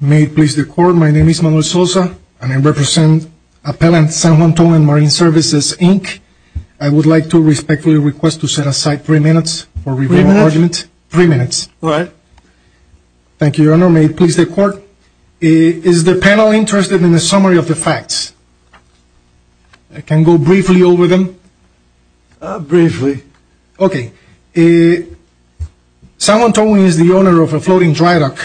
May it please the Court, my name is Manuel Sosa and I represent Appellant San Juan Towing & Marine Services, Inc. I would like to respectfully request to set aside three minutes for review of the argument. Three minutes? Three minutes. All right. Thank you, Your Honor. May it please the Court. Is the panel interested in a summary of the facts? I can go briefly over them. Briefly. Okay, San Juan Towing is the owner of a floating dry dock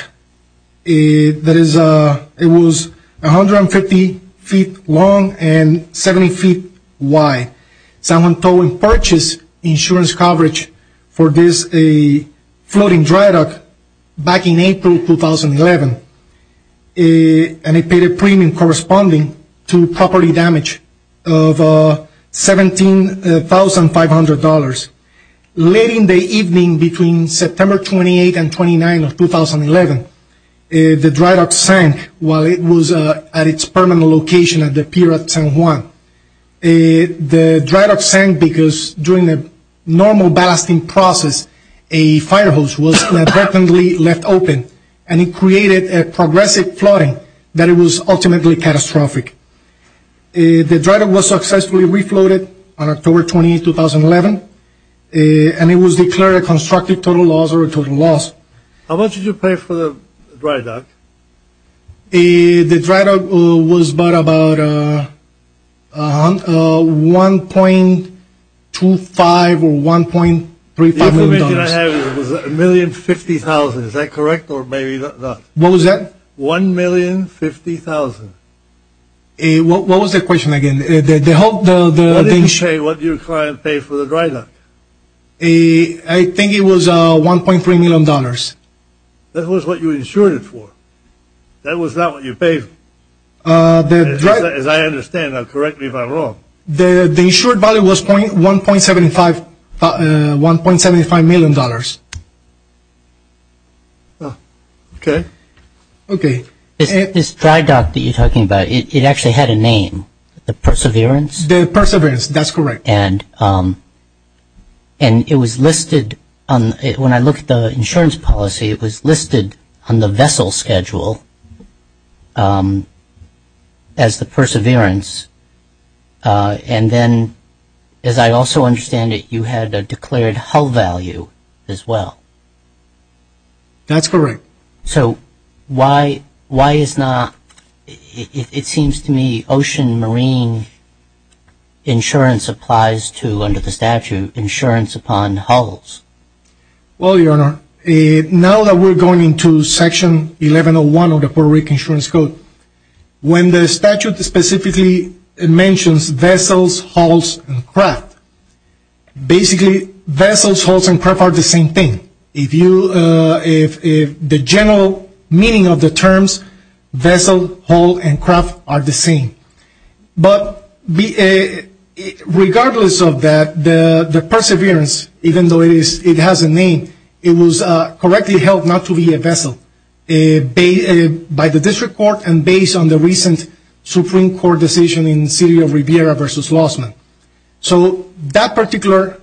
that was 150 feet long and 70 feet wide. San Juan Towing purchased insurance coverage for this floating dry dock back in April 2011 and it paid a premium corresponding to property damage of $17,500. Late in the evening between September 28 and 29 of 2011, the dry dock sank while it was at its permanent location at the pier at San Juan. The dry dock sank because during the normal ballasting process, a fire hose was inadvertently left open and it created a progressive flooding that was ultimately catastrophic. The dry dock was successfully refloated on October 28, 2011 and it was declared a constructive total loss or a total loss. How much did you pay for the dry dock? The dry dock was about $1.25 or $1.35 million. The estimation I have is $1,050,000. Is that correct or maybe not? What was that? $1,050,000. What was the question again? What did your client pay for the dry dock? I think it was $1.3 million. That was what you insured it for. That was not what you paid. As I understand, correct me if I'm wrong. The insured value was $1.75 million. Okay. This dry dock that you're talking about, it actually had a name, the Perseverance? The Perseverance, that's correct. And it was listed, when I looked at the insurance policy, it was listed on the vessel schedule as the Perseverance. And then, as I also understand it, you had a declared hull value as well. That's correct. So why is not, it seems to me, ocean marine insurance applies to, under the statute, insurance upon hulls? Well, Your Honor, now that we're going into Section 1101 of the Puerto Rican Insurance Code, when the statute specifically mentions vessels, hulls, and craft, basically vessels, hulls, and craft are the same thing. If you, if the general meaning of the terms vessel, hull, and craft are the same. But regardless of that, the Perseverance, even though it has a name, it was correctly held not to be a vessel by the district court and based on the recent Supreme Court decision in the City of Riviera v. Lossman. So that particular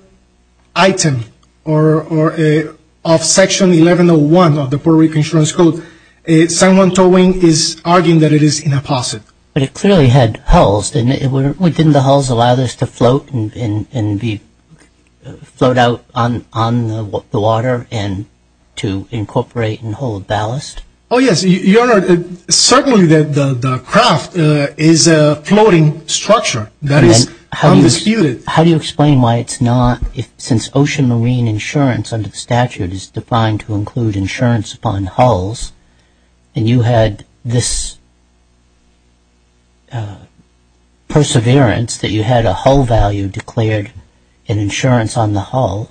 item of Section 1101 of the Puerto Rican Insurance Code, someone towing is arguing that it is in a faucet. But it clearly had hulls. Didn't the hulls allow this to float and float out on the water and to incorporate and hold ballast? Oh yes, Your Honor, certainly the craft is a floating structure. That is undisputed. How do you explain why it's not, since ocean marine insurance under the statute is defined to include insurance upon hulls, and you had this perseverance that you had a hull value declared an insurance on the hull.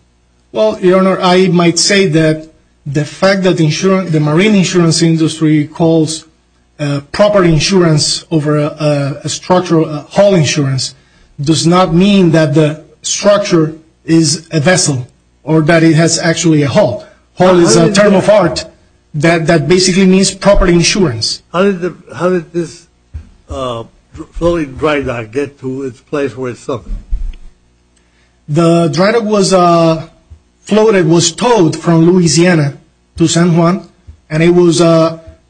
Well, Your Honor, I might say that the fact that the marine insurance industry calls proper insurance over a structural hull insurance does not mean that the structure is a vessel or that it has actually a hull. Hull is a term of art that basically means proper insurance. How did this floating dry dock get to its place where it sunk? The dry dock was floated, was towed from Louisiana to San Juan, and it was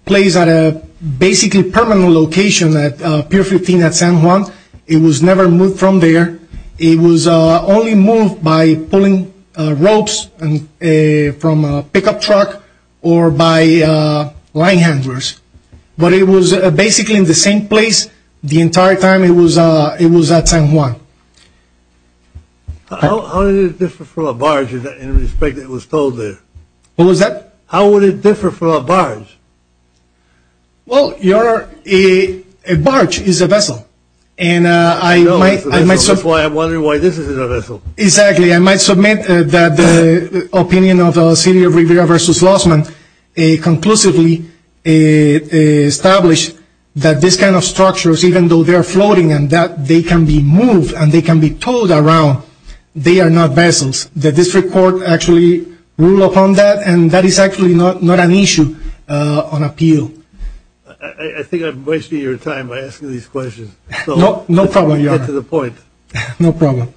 placed at a basically permanent location at Pier 15 at San Juan. It was never moved from there. It was only moved by pulling ropes from a pickup truck or by line handlers. But it was basically in the same place the entire time it was at San Juan. How did it differ from a barge in respect that it was towed there? What was that? How would it differ from a barge? Well, Your Honor, a barge is a vessel. And I might... That's why I'm wondering why this isn't a vessel. Exactly. I might submit that the opinion of the city of Rivera v. Lossman conclusively established that this kind of structures, even though they are floating and that they can be moved and they can be towed around, they are not vessels. The district court actually ruled upon that, and that is actually not an issue on appeal. I think I'm wasting your time by asking these questions. No problem, Your Honor. No problem.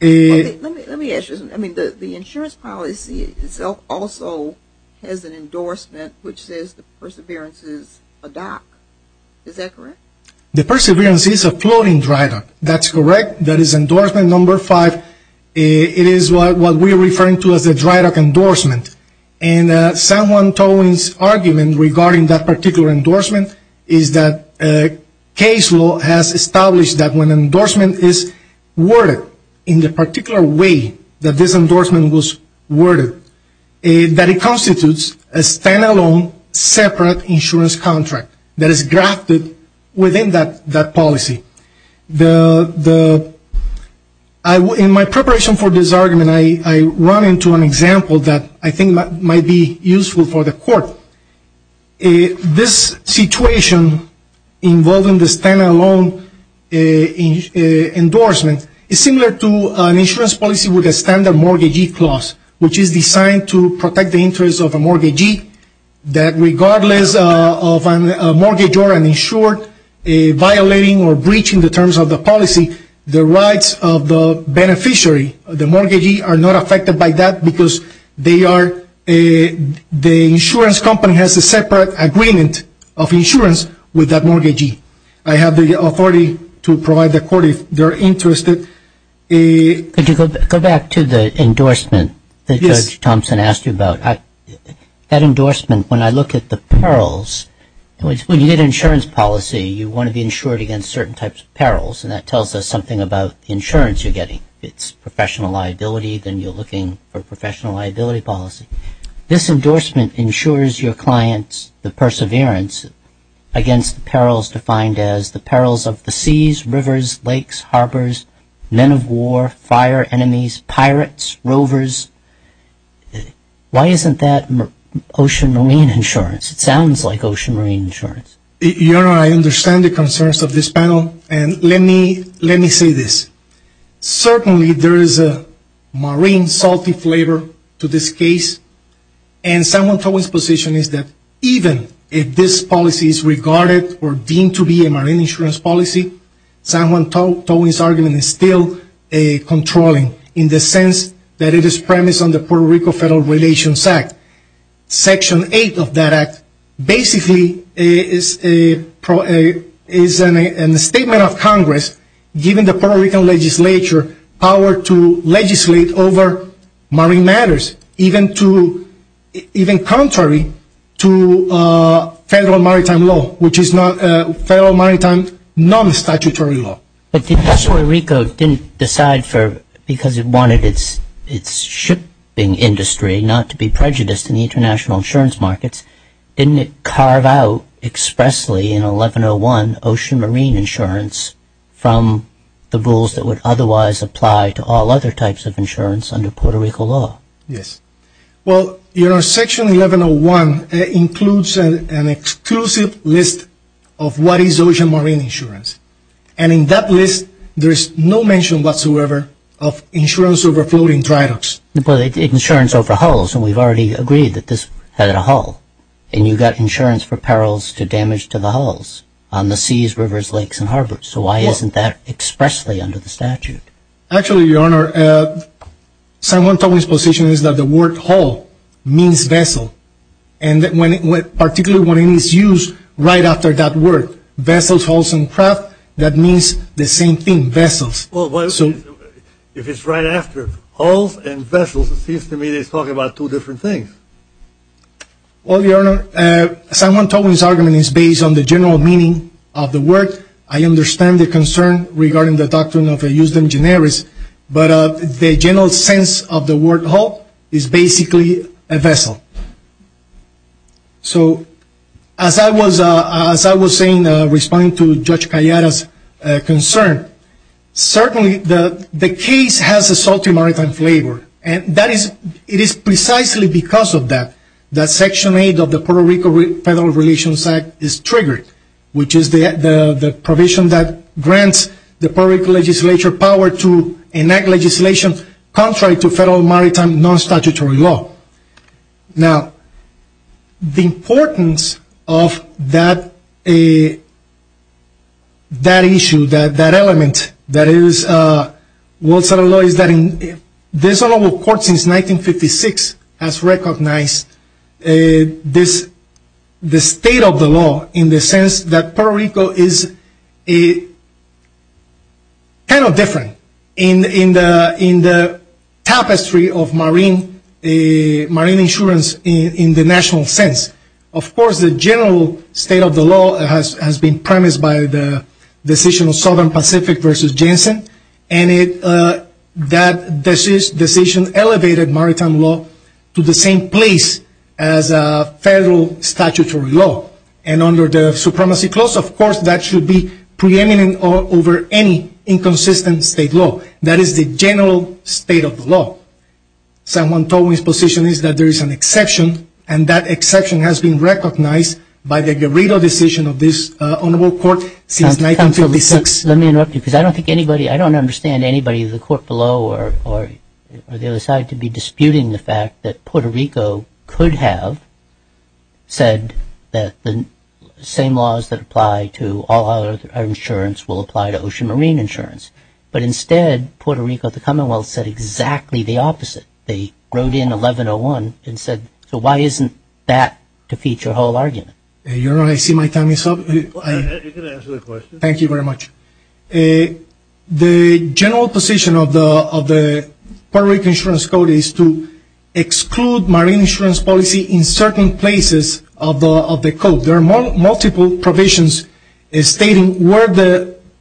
Let me ask you something. The insurance policy itself also has an endorsement which says the Perseverance is a dock. Is that correct? The Perseverance is a floating dry dock. That's correct. That is endorsement number five. It is what we are referring to as a dry dock endorsement. And San Juan Towing's argument regarding that particular endorsement is that case law has established that when an endorsement is worded in the particular way that this endorsement was worded, that it constitutes a stand-alone separate insurance contract that is grafted within that policy. In my preparation for this argument, I run into an example that I think might be useful for the court. This situation involving the stand-alone endorsement is similar to an insurance policy with a standard mortgagee clause, which is designed to protect the interest of a mortgagee, that regardless of a mortgage or an insured violating or breaching the terms of the policy, the rights of the beneficiary, the mortgagee, are not affected by that because the insurance company has a separate agreement of insurance with that mortgagee. I have the authority to provide the court if they are interested. Could you go back to the endorsement that Judge Thompson asked you about? That endorsement, when I look at the perils, when you get an insurance policy, you want to be insured against certain types of perils, and that tells us something about the insurance you're getting. If it's professional liability, then you're looking for professional liability policy. This endorsement insures your client's perseverance against perils defined as the perils of the seas, rivers, lakes, harbors, men of war, fire, enemies, pirates, rovers. Why isn't that ocean marine insurance? It sounds like ocean marine insurance. Your Honor, I understand the concerns of this panel, and let me say this. Certainly there is a marine salty flavor to this case, and San Juan Towing's position is that even if this policy is regarded or deemed to be a marine insurance policy, San Juan Towing's argument is still controlling in the sense that it is premised on the Puerto Rico Federal Relations Act. Section 8 of that act basically is a statement of Congress, giving the Puerto Rican legislature power to legislate over marine matters, even contrary to federal maritime law, which is federal maritime non-statutory law. But if Puerto Rico didn't decide because it wanted its shipping industry not to be prejudiced in the international insurance markets, didn't it carve out expressly in 1101 ocean marine insurance from the rules that would otherwise apply to all other types of insurance under Puerto Rico law? Yes. Well, you know, Section 1101 includes an exclusive list of what is ocean marine insurance, and in that list there is no mention whatsoever of insurance over floating dry docks. But insurance over hulls, and we've already agreed that this had a hull, and you've got insurance for perils to damage to the hulls on the seas, rivers, lakes, and harbors. So why isn't that expressly under the statute? Actually, Your Honor, San Juan Towing's position is that the word hull means vessel, and particularly when it is used right after that word, vessels, hulls, and craft, that means the same thing, vessels. Well, if it's right after hulls and vessels, it seems to me it's talking about two different things. Well, Your Honor, San Juan Towing's argument is based on the general meaning of the word. I understand the concern regarding the doctrine of eusden generis, but the general sense of the word hull is basically a vessel. So as I was saying, responding to Judge Callada's concern, certainly the case has a salty maritime flavor, and it is precisely because of that that Section 8 of the Puerto Rico Federal Relations Act is triggered, which is the provision that grants the Puerto Rico legislature power to enact legislation contrary to federal maritime non-statutory law. Now, the importance of that issue, that element, that is, what's in the law is that this Honorable Court, since 1956, has recognized the state of the law in the sense that Puerto Rico is kind of different in the tapestry of marine insurance in the national sense. Of course, the general state of the law has been premised by the decision of Southern Pacific v. Jensen, and that decision elevated maritime law to the same place as federal statutory law. And under the Supremacy Clause, of course, that should be preeminent over any inconsistent state law. That is the general state of the law. Someone told me his position is that there is an exception, and that exception has been recognized by the Garrido decision of this Honorable Court since 1956. Let me interrupt you, because I don't think anybody, I don't understand anybody in the court below or the other side to be disputing the fact that Puerto Rico could have said that the same laws that apply to all other insurance will apply to ocean marine insurance. But instead, Puerto Rico, the Commonwealth, said exactly the opposite. They wrote in 1101 and said, so why isn't that to feed your whole argument? I see my time is up. You can answer the question. Thank you very much. The general position of the Puerto Rico Insurance Code is to exclude marine insurance policy in certain places of the code. There are multiple provisions stating where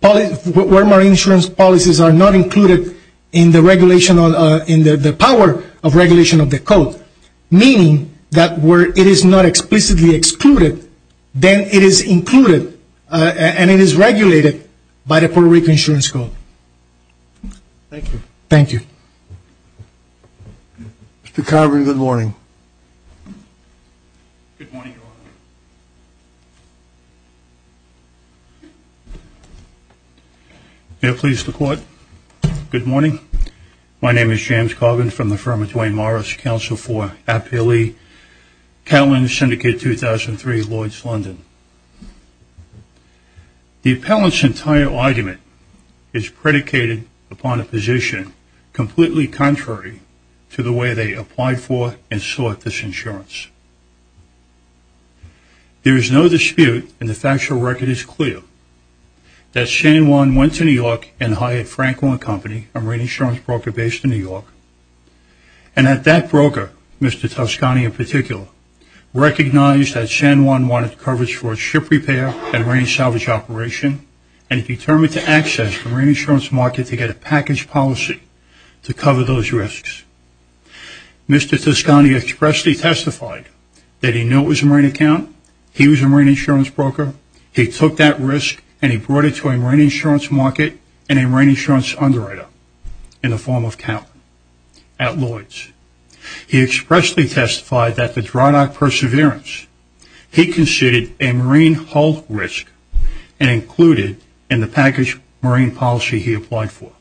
marine insurance policies are not included in the regulation, in the power of regulation of the code, meaning that where it is not explicitly excluded, then it is included and it is regulated by the Puerto Rico Insurance Code. Thank you. Thank you. Mr. Carver, good morning. Good morning, Your Honor. May it please the Court, good morning. My name is James Carvin from the firm of Duane Morris, Counsel for Appellee, Catalan Syndicate 2003, Lourdes, London. The appellant's entire argument is predicated upon a position completely contrary to the way they applied for and sought this insurance. There is no dispute and the factual record is clear that San Juan went to New York and hired Franklin & Company, a marine insurance broker based in New York, and that that broker, Mr. Toscani in particular, recognized that San Juan wanted coverage for a ship repair and marine salvage operation and determined to access the marine insurance market to get a package policy to cover those risks. Mr. Toscani expressly testified that he knew it was a marine account, he was a marine insurance broker, he took that risk, and he brought it to a marine insurance market and a marine insurance underwriter in the form of account at Lourdes. He expressly testified that the dry dock perseverance, he considered a marine hull risk and included in the package marine policy he applied for.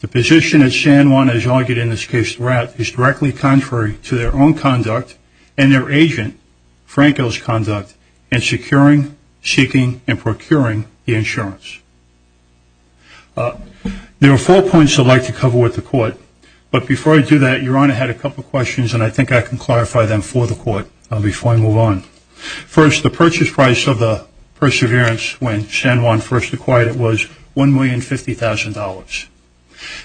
The position that San Juan has argued in this case throughout is directly contrary to their own conduct and their agent, Franco's, conduct in securing, seeking, and procuring the insurance. There are four points I'd like to cover with the court, but before I do that, Your Honor had a couple of questions and I think I can clarify them for the court before I move on. First, the purchase price of the perseverance when San Juan first acquired it was $1,050,000.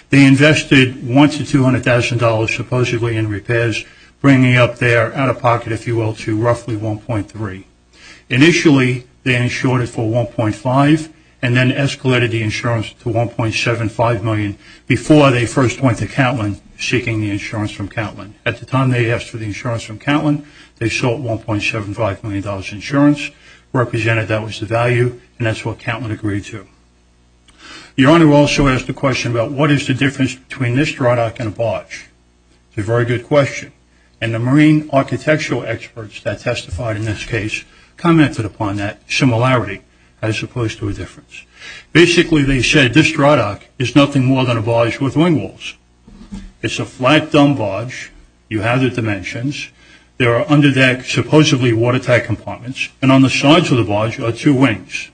They invested $1,000 to $200,000 supposedly in repairs, bringing up their out-of-pocket, if you will, to roughly 1.3. Initially, they insured it for 1.5 and then escalated the insurance to 1.75 million before they first went to Catlin seeking the insurance from Catlin. At the time they asked for the insurance from Catlin, they sold $1.75 million insurance, represented that was the value, and that's what Catlin agreed to. Your Honor also asked a question about what is the difference between this dry dock and a barge. It's a very good question, and the marine architectural experts that testified in this case commented upon that similarity as opposed to a difference. Basically, they said this dry dock is nothing more than a barge with wing walls. It's a flat, dumb barge. You have the dimensions. There are under deck, supposedly watertight compartments, and on the sides of the barge are two wings.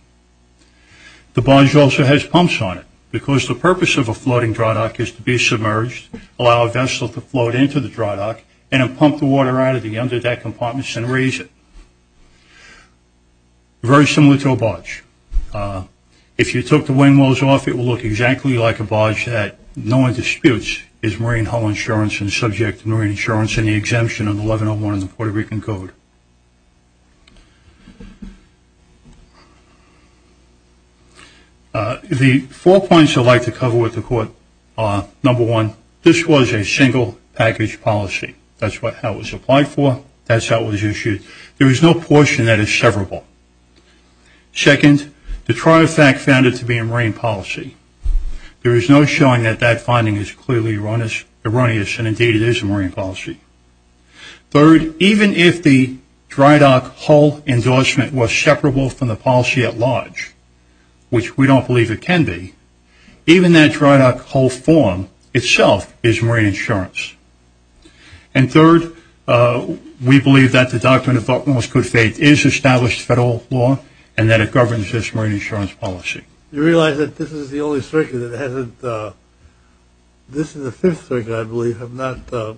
The barge also has pumps on it because the purpose of a floating dry dock is to be submerged, allow a vessel to float into the dry dock, and then pump the water out of the under deck compartments and raise it. Very similar to a barge. If you took the wing walls off, it would look exactly like a barge that, knowing disputes, is marine hull insurance and subject to marine insurance and the exemption of 1101 in the Puerto Rican Code. The four points I'd like to cover with the Court are, number one, this was a single package policy. That's how it was applied for. That's how it was issued. There is no portion that is severable. Second, the trial fact found it to be a marine policy. There is no showing that that finding is clearly erroneous, and indeed it is a marine policy. Third, even if the dry dock hull endorsement was separable from the policy at large, which we don't believe it can be, even that dry dock hull form itself is marine insurance. And third, we believe that the doctrine of utmost good faith is established federal law and that it governs this marine insurance policy. You realize that this is the only stricter that hasn't – this is the fifth stricter, I believe. I've not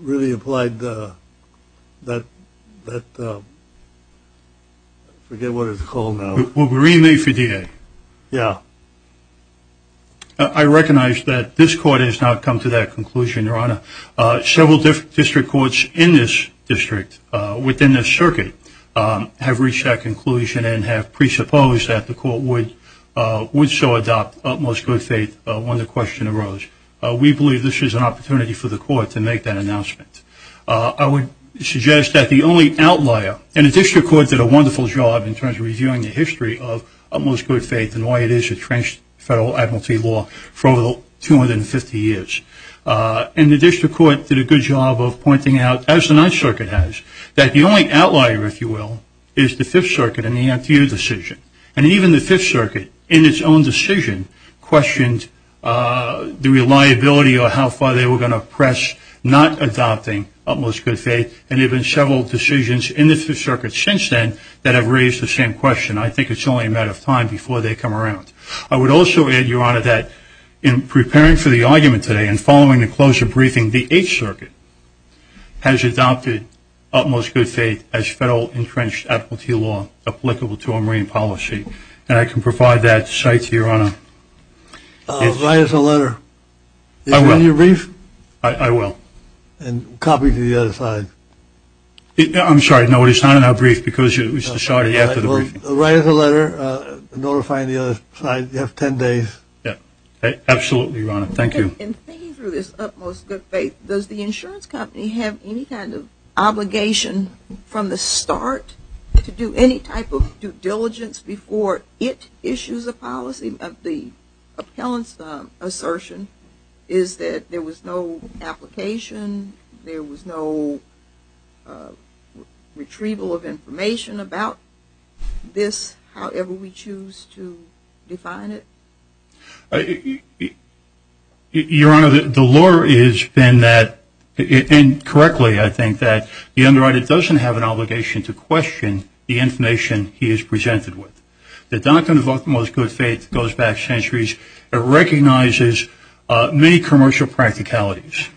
really applied that – I forget what it's called now. Marine law for DA. Yeah. I recognize that this Court has not come to that conclusion, Your Honor. Several different district courts in this district within this circuit have reached that conclusion and have presupposed that the Court would so adopt utmost good faith when the question arose. We believe this is an opportunity for the Court to make that announcement. I would suggest that the only outlier – and the district courts did a wonderful job in terms of reviewing the history of utmost good faith and why it is a trenched federal admiralty law for over 250 years. And the district court did a good job of pointing out, as the Ninth Circuit has, that the only outlier, if you will, is the Fifth Circuit in the Anthea decision. And even the Fifth Circuit, in its own decision, questioned the reliability or how far they were going to press not adopting utmost good faith. And there have been several decisions in the Fifth Circuit since then that have raised the same question. I think it's only a matter of time before they come around. I would also add, Your Honor, that in preparing for the argument today and following the closure briefing, the Eighth Circuit has adopted utmost good faith as federal entrenched admiralty law applicable to our marine policy. And I can provide that site to Your Honor. Write us a letter. I will. Is it in your brief? I will. And copy to the other side. I'm sorry. No, it's not in our brief because it was decided after the briefing. Write us a letter notifying the other side. You have ten days. Absolutely, Your Honor. Thank you. In thinking through this utmost good faith, does the insurance company have any kind of obligation from the start to do any type of due diligence before it issues a policy of the appellant's assertion is that there was no application, there was no retrieval of information about this, however we choose to define it? Your Honor, the lure has been that, and correctly, I think, that the underwriter doesn't have an obligation to question the information he is presented with. The doctrine of utmost good faith goes back centuries. It recognizes many commercial practicalities.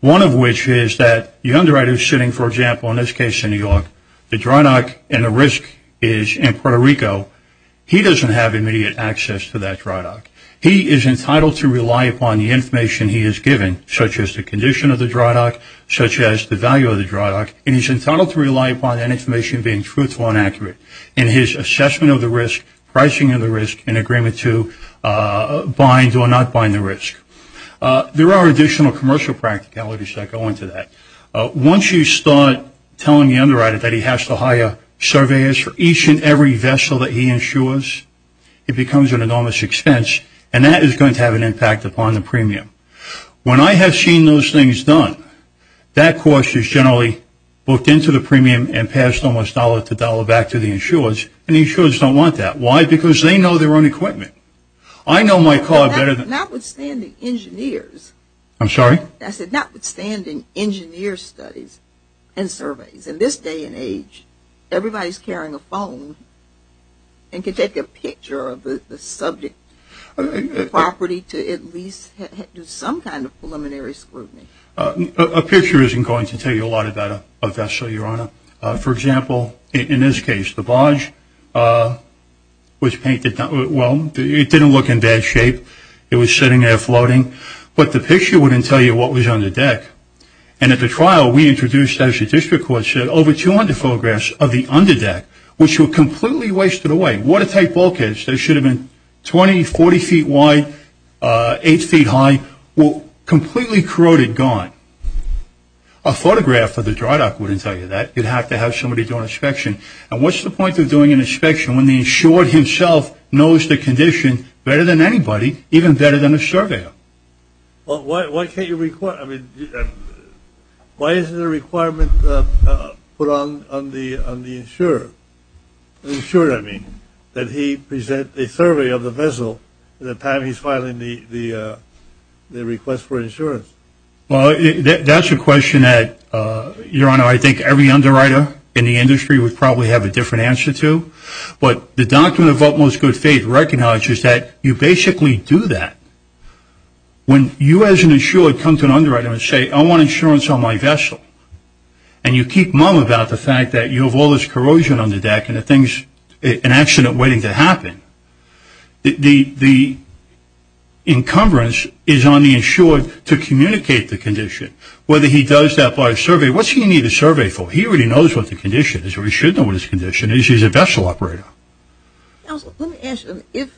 One of which is that the underwriter is sitting, for example, in this case in New York, the dry dock and the risk is in Puerto Rico. He doesn't have immediate access to that dry dock. He is entitled to rely upon the information he is given, such as the condition of the dry dock, such as the value of the dry dock, and he's entitled to rely upon that information being truthful and accurate in his assessment of the risk, pricing of the risk, and agreement to bind or not bind the risk. There are additional commercial practicalities that go into that. Once you start telling the underwriter that he has to hire surveyors for each and every vessel that he insures, it becomes an enormous expense, and that is going to have an impact upon the premium. When I have seen those things done, that cost is generally booked into the premium and passed almost dollar to dollar back to the insurers, and the insurers don't want that. Why? Because they know their own equipment. I know my car better than Notwithstanding engineers. I'm sorry? I said notwithstanding engineer studies and surveys. In this day and age, everybody is carrying a phone and can take a picture of the subject, the property, to at least do some kind of preliminary scrutiny. A picture isn't going to tell you a lot about a vessel, Your Honor. For example, in this case, the barge was painted. Well, it didn't look in bad shape. It was sitting there floating. But the picture wouldn't tell you what was on the deck. And at the trial, we introduced, as the district court said, over 200 photographs of the underdeck, which were completely wasted away, watertight bulkheads. They should have been 20, 40 feet wide, 8 feet high, completely corroded, gone. A photograph of the dry dock wouldn't tell you that. You'd have to have somebody do an inspection. And what's the point of doing an inspection when the insured himself knows the condition better than anybody, even better than a surveyor? Well, why can't you require? I mean, why is there a requirement put on the insurer? Insurer, I mean, that he present a survey of the vessel at the time he's filing the request for insurance. Well, that's a question that, Your Honor, I think every underwriter in the industry would probably have a different answer to. But the document of utmost good faith recognizes that you basically do that. When you as an insurer come to an underwriter and say, I want insurance on my vessel, and you keep mum about the fact that you have all this corrosion on the deck and an accident waiting to happen, the encumbrance is on the insured to communicate the condition. Whether he does that by survey, what's he going to need a survey for? He already knows what the condition is, or he should know what his condition is. He's a vessel operator. Counsel, let me ask you,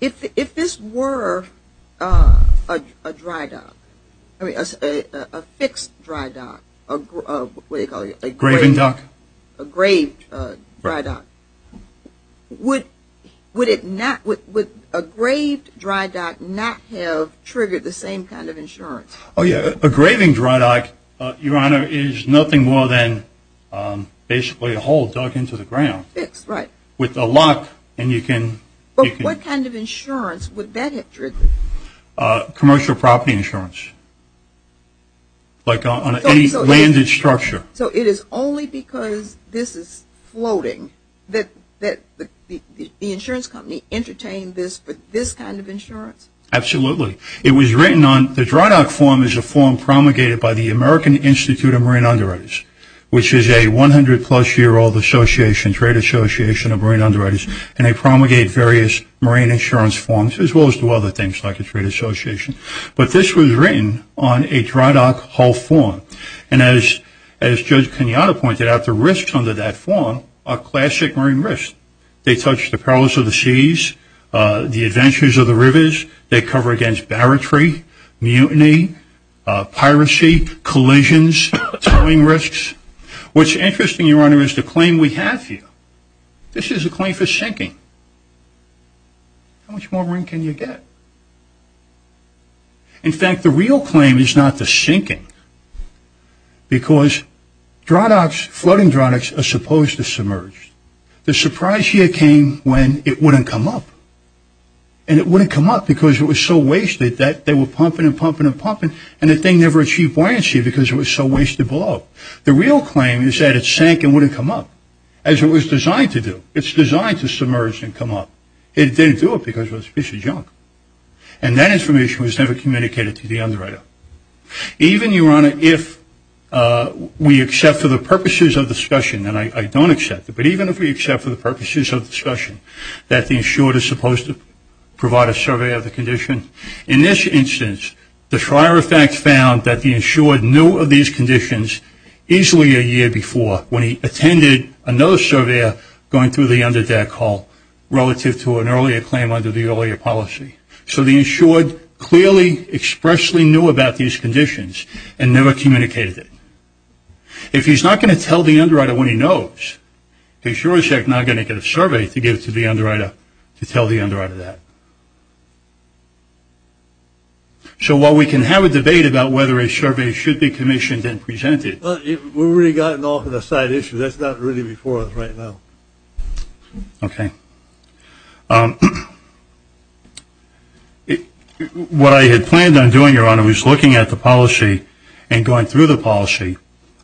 if this were a dry dock, a fixed dry dock, what do you call it? A graving dock. A graved dry dock, would a graved dry dock not have triggered the same kind of insurance? Oh, yeah, a graving dry dock, Your Honor, is nothing more than basically a hole dug into the ground. A fixed, right. With a lock, and you can... But what kind of insurance would that have triggered? Commercial property insurance. Like on any landed structure. So it is only because this is floating that the insurance company entertained this kind of insurance? Absolutely. It was written on, the dry dock form is a form promulgated by the American Institute of Marine Underwriters, which is a 100 plus year old association, trade association of marine underwriters, and they promulgate various marine insurance forms, as well as do other things like a trade association. But this was written on a dry dock hull form, and as Judge Kenyatta pointed out, the risks under that form are classic marine risks. They touch the prowess of the seas, the adventures of the rivers. They cover against barratry, mutiny, piracy, collisions, towing risks. What's interesting, Your Honor, is the claim we have here. This is a claim for sinking. How much more room can you get? In fact, the real claim is not the sinking, because dry docks, floating dry docks, are supposed to submerge. The surprise here came when it wouldn't come up. And it wouldn't come up because it was so wasted that they were pumping and pumping and pumping, and the thing never achieved buoyancy because it was so wasted below. The real claim is that it sank and wouldn't come up, as it was designed to do. It's designed to submerge and come up. It didn't do it because it was a piece of junk. And that information was never communicated to the underwriter. Even, Your Honor, if we accept for the purposes of discussion, and I don't accept it, but even if we accept for the purposes of discussion that the insured is supposed to provide a survey of the condition, in this instance, the Schreyer effect found that the insured knew of these conditions easily a year before when he attended another surveyor going through the underdeck hall relative to an earlier claim under the earlier policy. So the insured clearly expressly knew about these conditions and never communicated it. If he's not going to tell the underwriter when he knows, the insured is not going to get a survey to give to the underwriter to tell the underwriter that. So while we can have a debate about whether a survey should be commissioned and presented. We've already gotten off on a side issue. That's not really before us right now. Okay. What I had planned on doing, Your Honor, was looking at the policy and going through the policy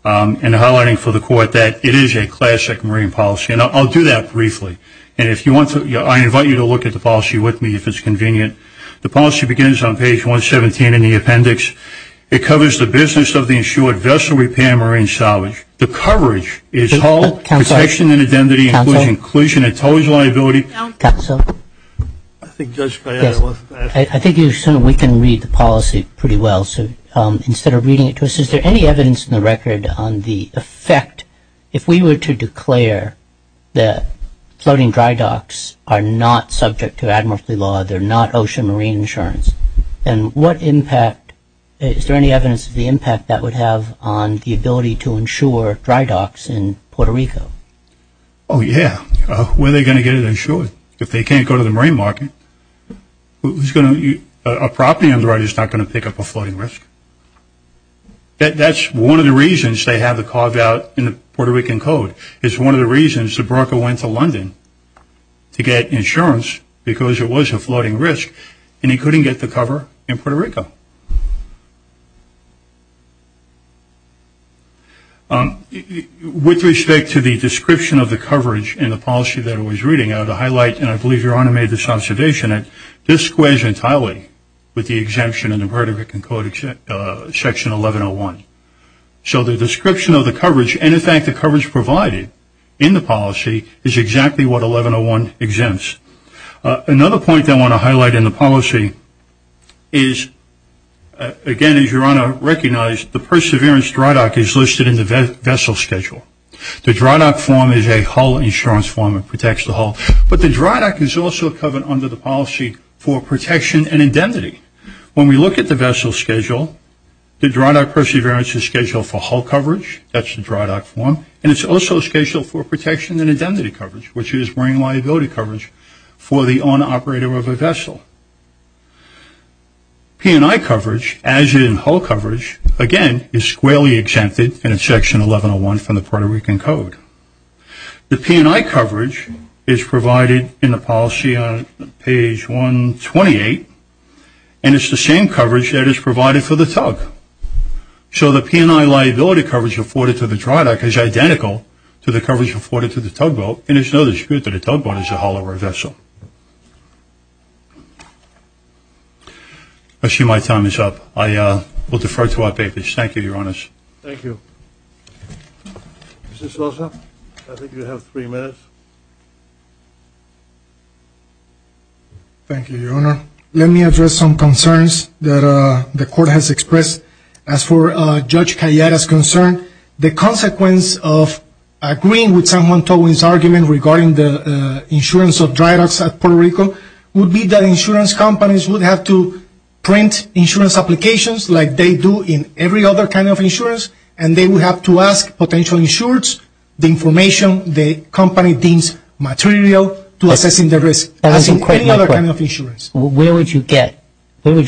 and highlighting for the court that it is a classic marine policy. And I'll do that briefly. And if you want to, I invite you to look at the policy with me if it's convenient. The policy begins on page 117 in the appendix. It covers the business of the insured vessel repair marine salvage. The coverage is protection and identity inclusion. It's always a liability. Counsel? I think Judge Payette. I think we can read the policy pretty well. So instead of reading it to us, is there any evidence in the record on the effect, if we were to declare that floating dry docks are not subject to admiralty law, they're not ocean marine insurance, and what impact, is there any evidence of the impact that would have on the ability to insure dry docks in Puerto Rico? Oh, yeah. When are they going to get it insured? If they can't go to the marine market, a property on the right is not going to pick up a floating risk. That's one of the reasons they have the carve out in the Puerto Rican Code. It's one of the reasons the broker went to London to get insurance because it was a floating risk, and he couldn't get the cover in Puerto Rico. With respect to the description of the coverage in the policy that I was reading, I would highlight, and I believe Your Honor made this observation, that this squares entirely with the exemption in the Puerto Rican Code section 1101. So the description of the coverage, and, in fact, the coverage provided in the policy is exactly what 1101 exempts. Another point I want to highlight in the policy is, again, as Your Honor recognized, the perseverance dry dock is listed in the vessel schedule. The dry dock form is a hull insurance form that protects the hull, but the dry dock is also covered under the policy for protection and indemnity. When we look at the vessel schedule, the dry dock perseverance is scheduled for hull coverage. That's the dry dock form, and it's also scheduled for protection and indemnity coverage, which is marine liability coverage for the owner-operator of a vessel. P&I coverage, as in hull coverage, again, is squarely exempted in section 1101 from the Puerto Rican Code. The P&I coverage is provided in the policy on page 128, and it's the same coverage that is provided for the tug. So the P&I liability coverage afforded to the dry dock is identical to the coverage afforded to the tugboat, and there's no dispute that a tugboat is a hollowware vessel. I see my time is up. I will defer to my papers. Thank you, Your Honors. Thank you. Mr. Sosa, I think you have three minutes. Thank you, Your Honor. Let me address some concerns that the Court has expressed. As for Judge Calleta's concern, the consequence of agreeing with someone's argument regarding the insurance of dry docks at Puerto Rico would be that insurance companies would have to print insurance applications like they do in every other kind of insurance, and they would have to ask potential insurers the information the company deems material to assessing the risk, as in any other kind of insurance. Where would you get an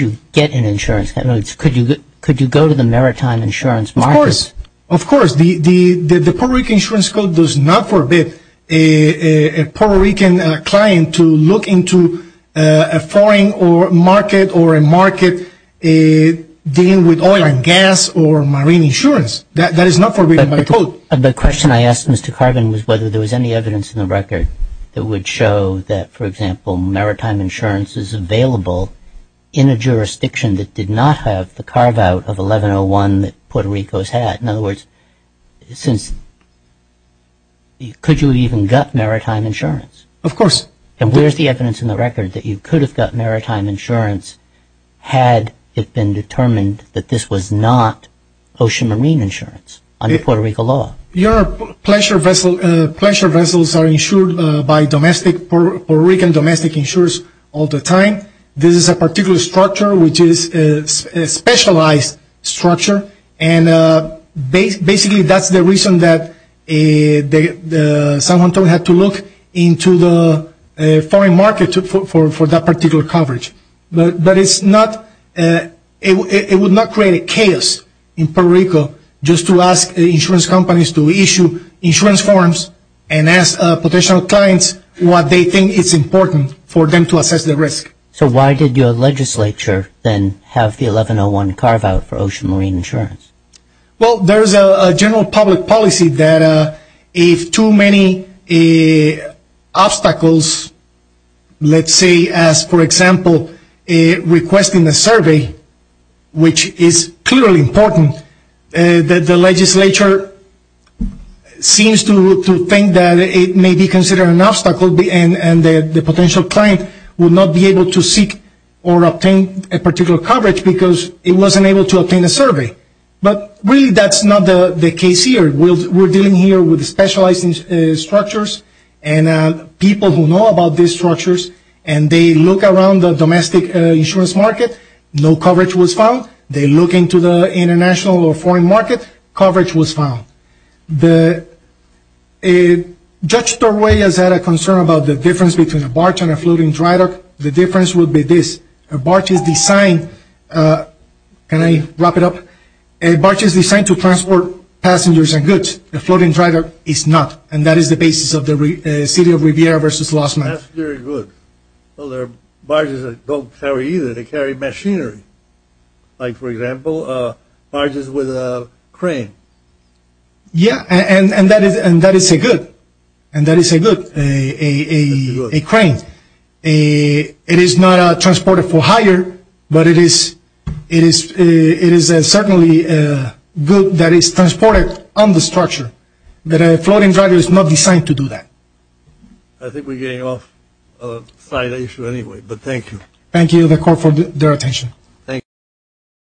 insurance? Could you go to the maritime insurance market? Of course. Of course. The Puerto Rican insurance code does not forbid a Puerto Rican client to look into a foreign market or a market dealing with oil and gas or marine insurance. That is not forbidden by the code. The question I asked Mr. Carvin was whether there was any evidence in the record that would show that, for example, maritime insurance is available in a jurisdiction that did not have the carve-out of 1101 that Puerto Rico has had. In other words, could you have even got maritime insurance? Of course. And where is the evidence in the record that you could have got maritime insurance had it been determined that this was not ocean marine insurance under Puerto Rico law? Your pleasure vessels are insured by Puerto Rican domestic insurers all the time. This is a particular structure, which is a specialized structure, and basically that's the reason that San Juan had to look into the foreign market for that particular coverage. But it would not create a chaos in Puerto Rico just to ask insurance companies to issue insurance forms and ask potential clients what they think is important for them to assess the risk. So why did your legislature then have the 1101 carve-out for ocean marine insurance? Well, there is a general public policy that if too many obstacles, let's say as, for example, requesting a survey, which is clearly important, that the legislature seems to think that it may be considered an obstacle and the potential client would not be able to seek or obtain a particular coverage because it wasn't able to obtain a survey. But really that's not the case here. We're dealing here with specialized structures and people who know about these structures and they look around the domestic insurance market, no coverage was found. They look into the international or foreign market, coverage was found. Judge Torway has had a concern about the difference between a barge and a floating dry dock. The difference would be this, a barge is designed, can I wrap it up, a barge is designed to transport passengers and goods. A floating dry dock is not. And that is the basis of the city of Riviera versus Lost Mountain. That's very good. Well, there are barges that don't carry either, they carry machinery. Like, for example, barges with a crane. Yeah, and that is a good, and that is a good, a crane. It is not transported for hire, but it is certainly good that it's transported on the structure. But a floating dry dock is not designed to do that. I think we're getting off the side of the issue anyway, but thank you. Thank you to the court for their attention. Thank you.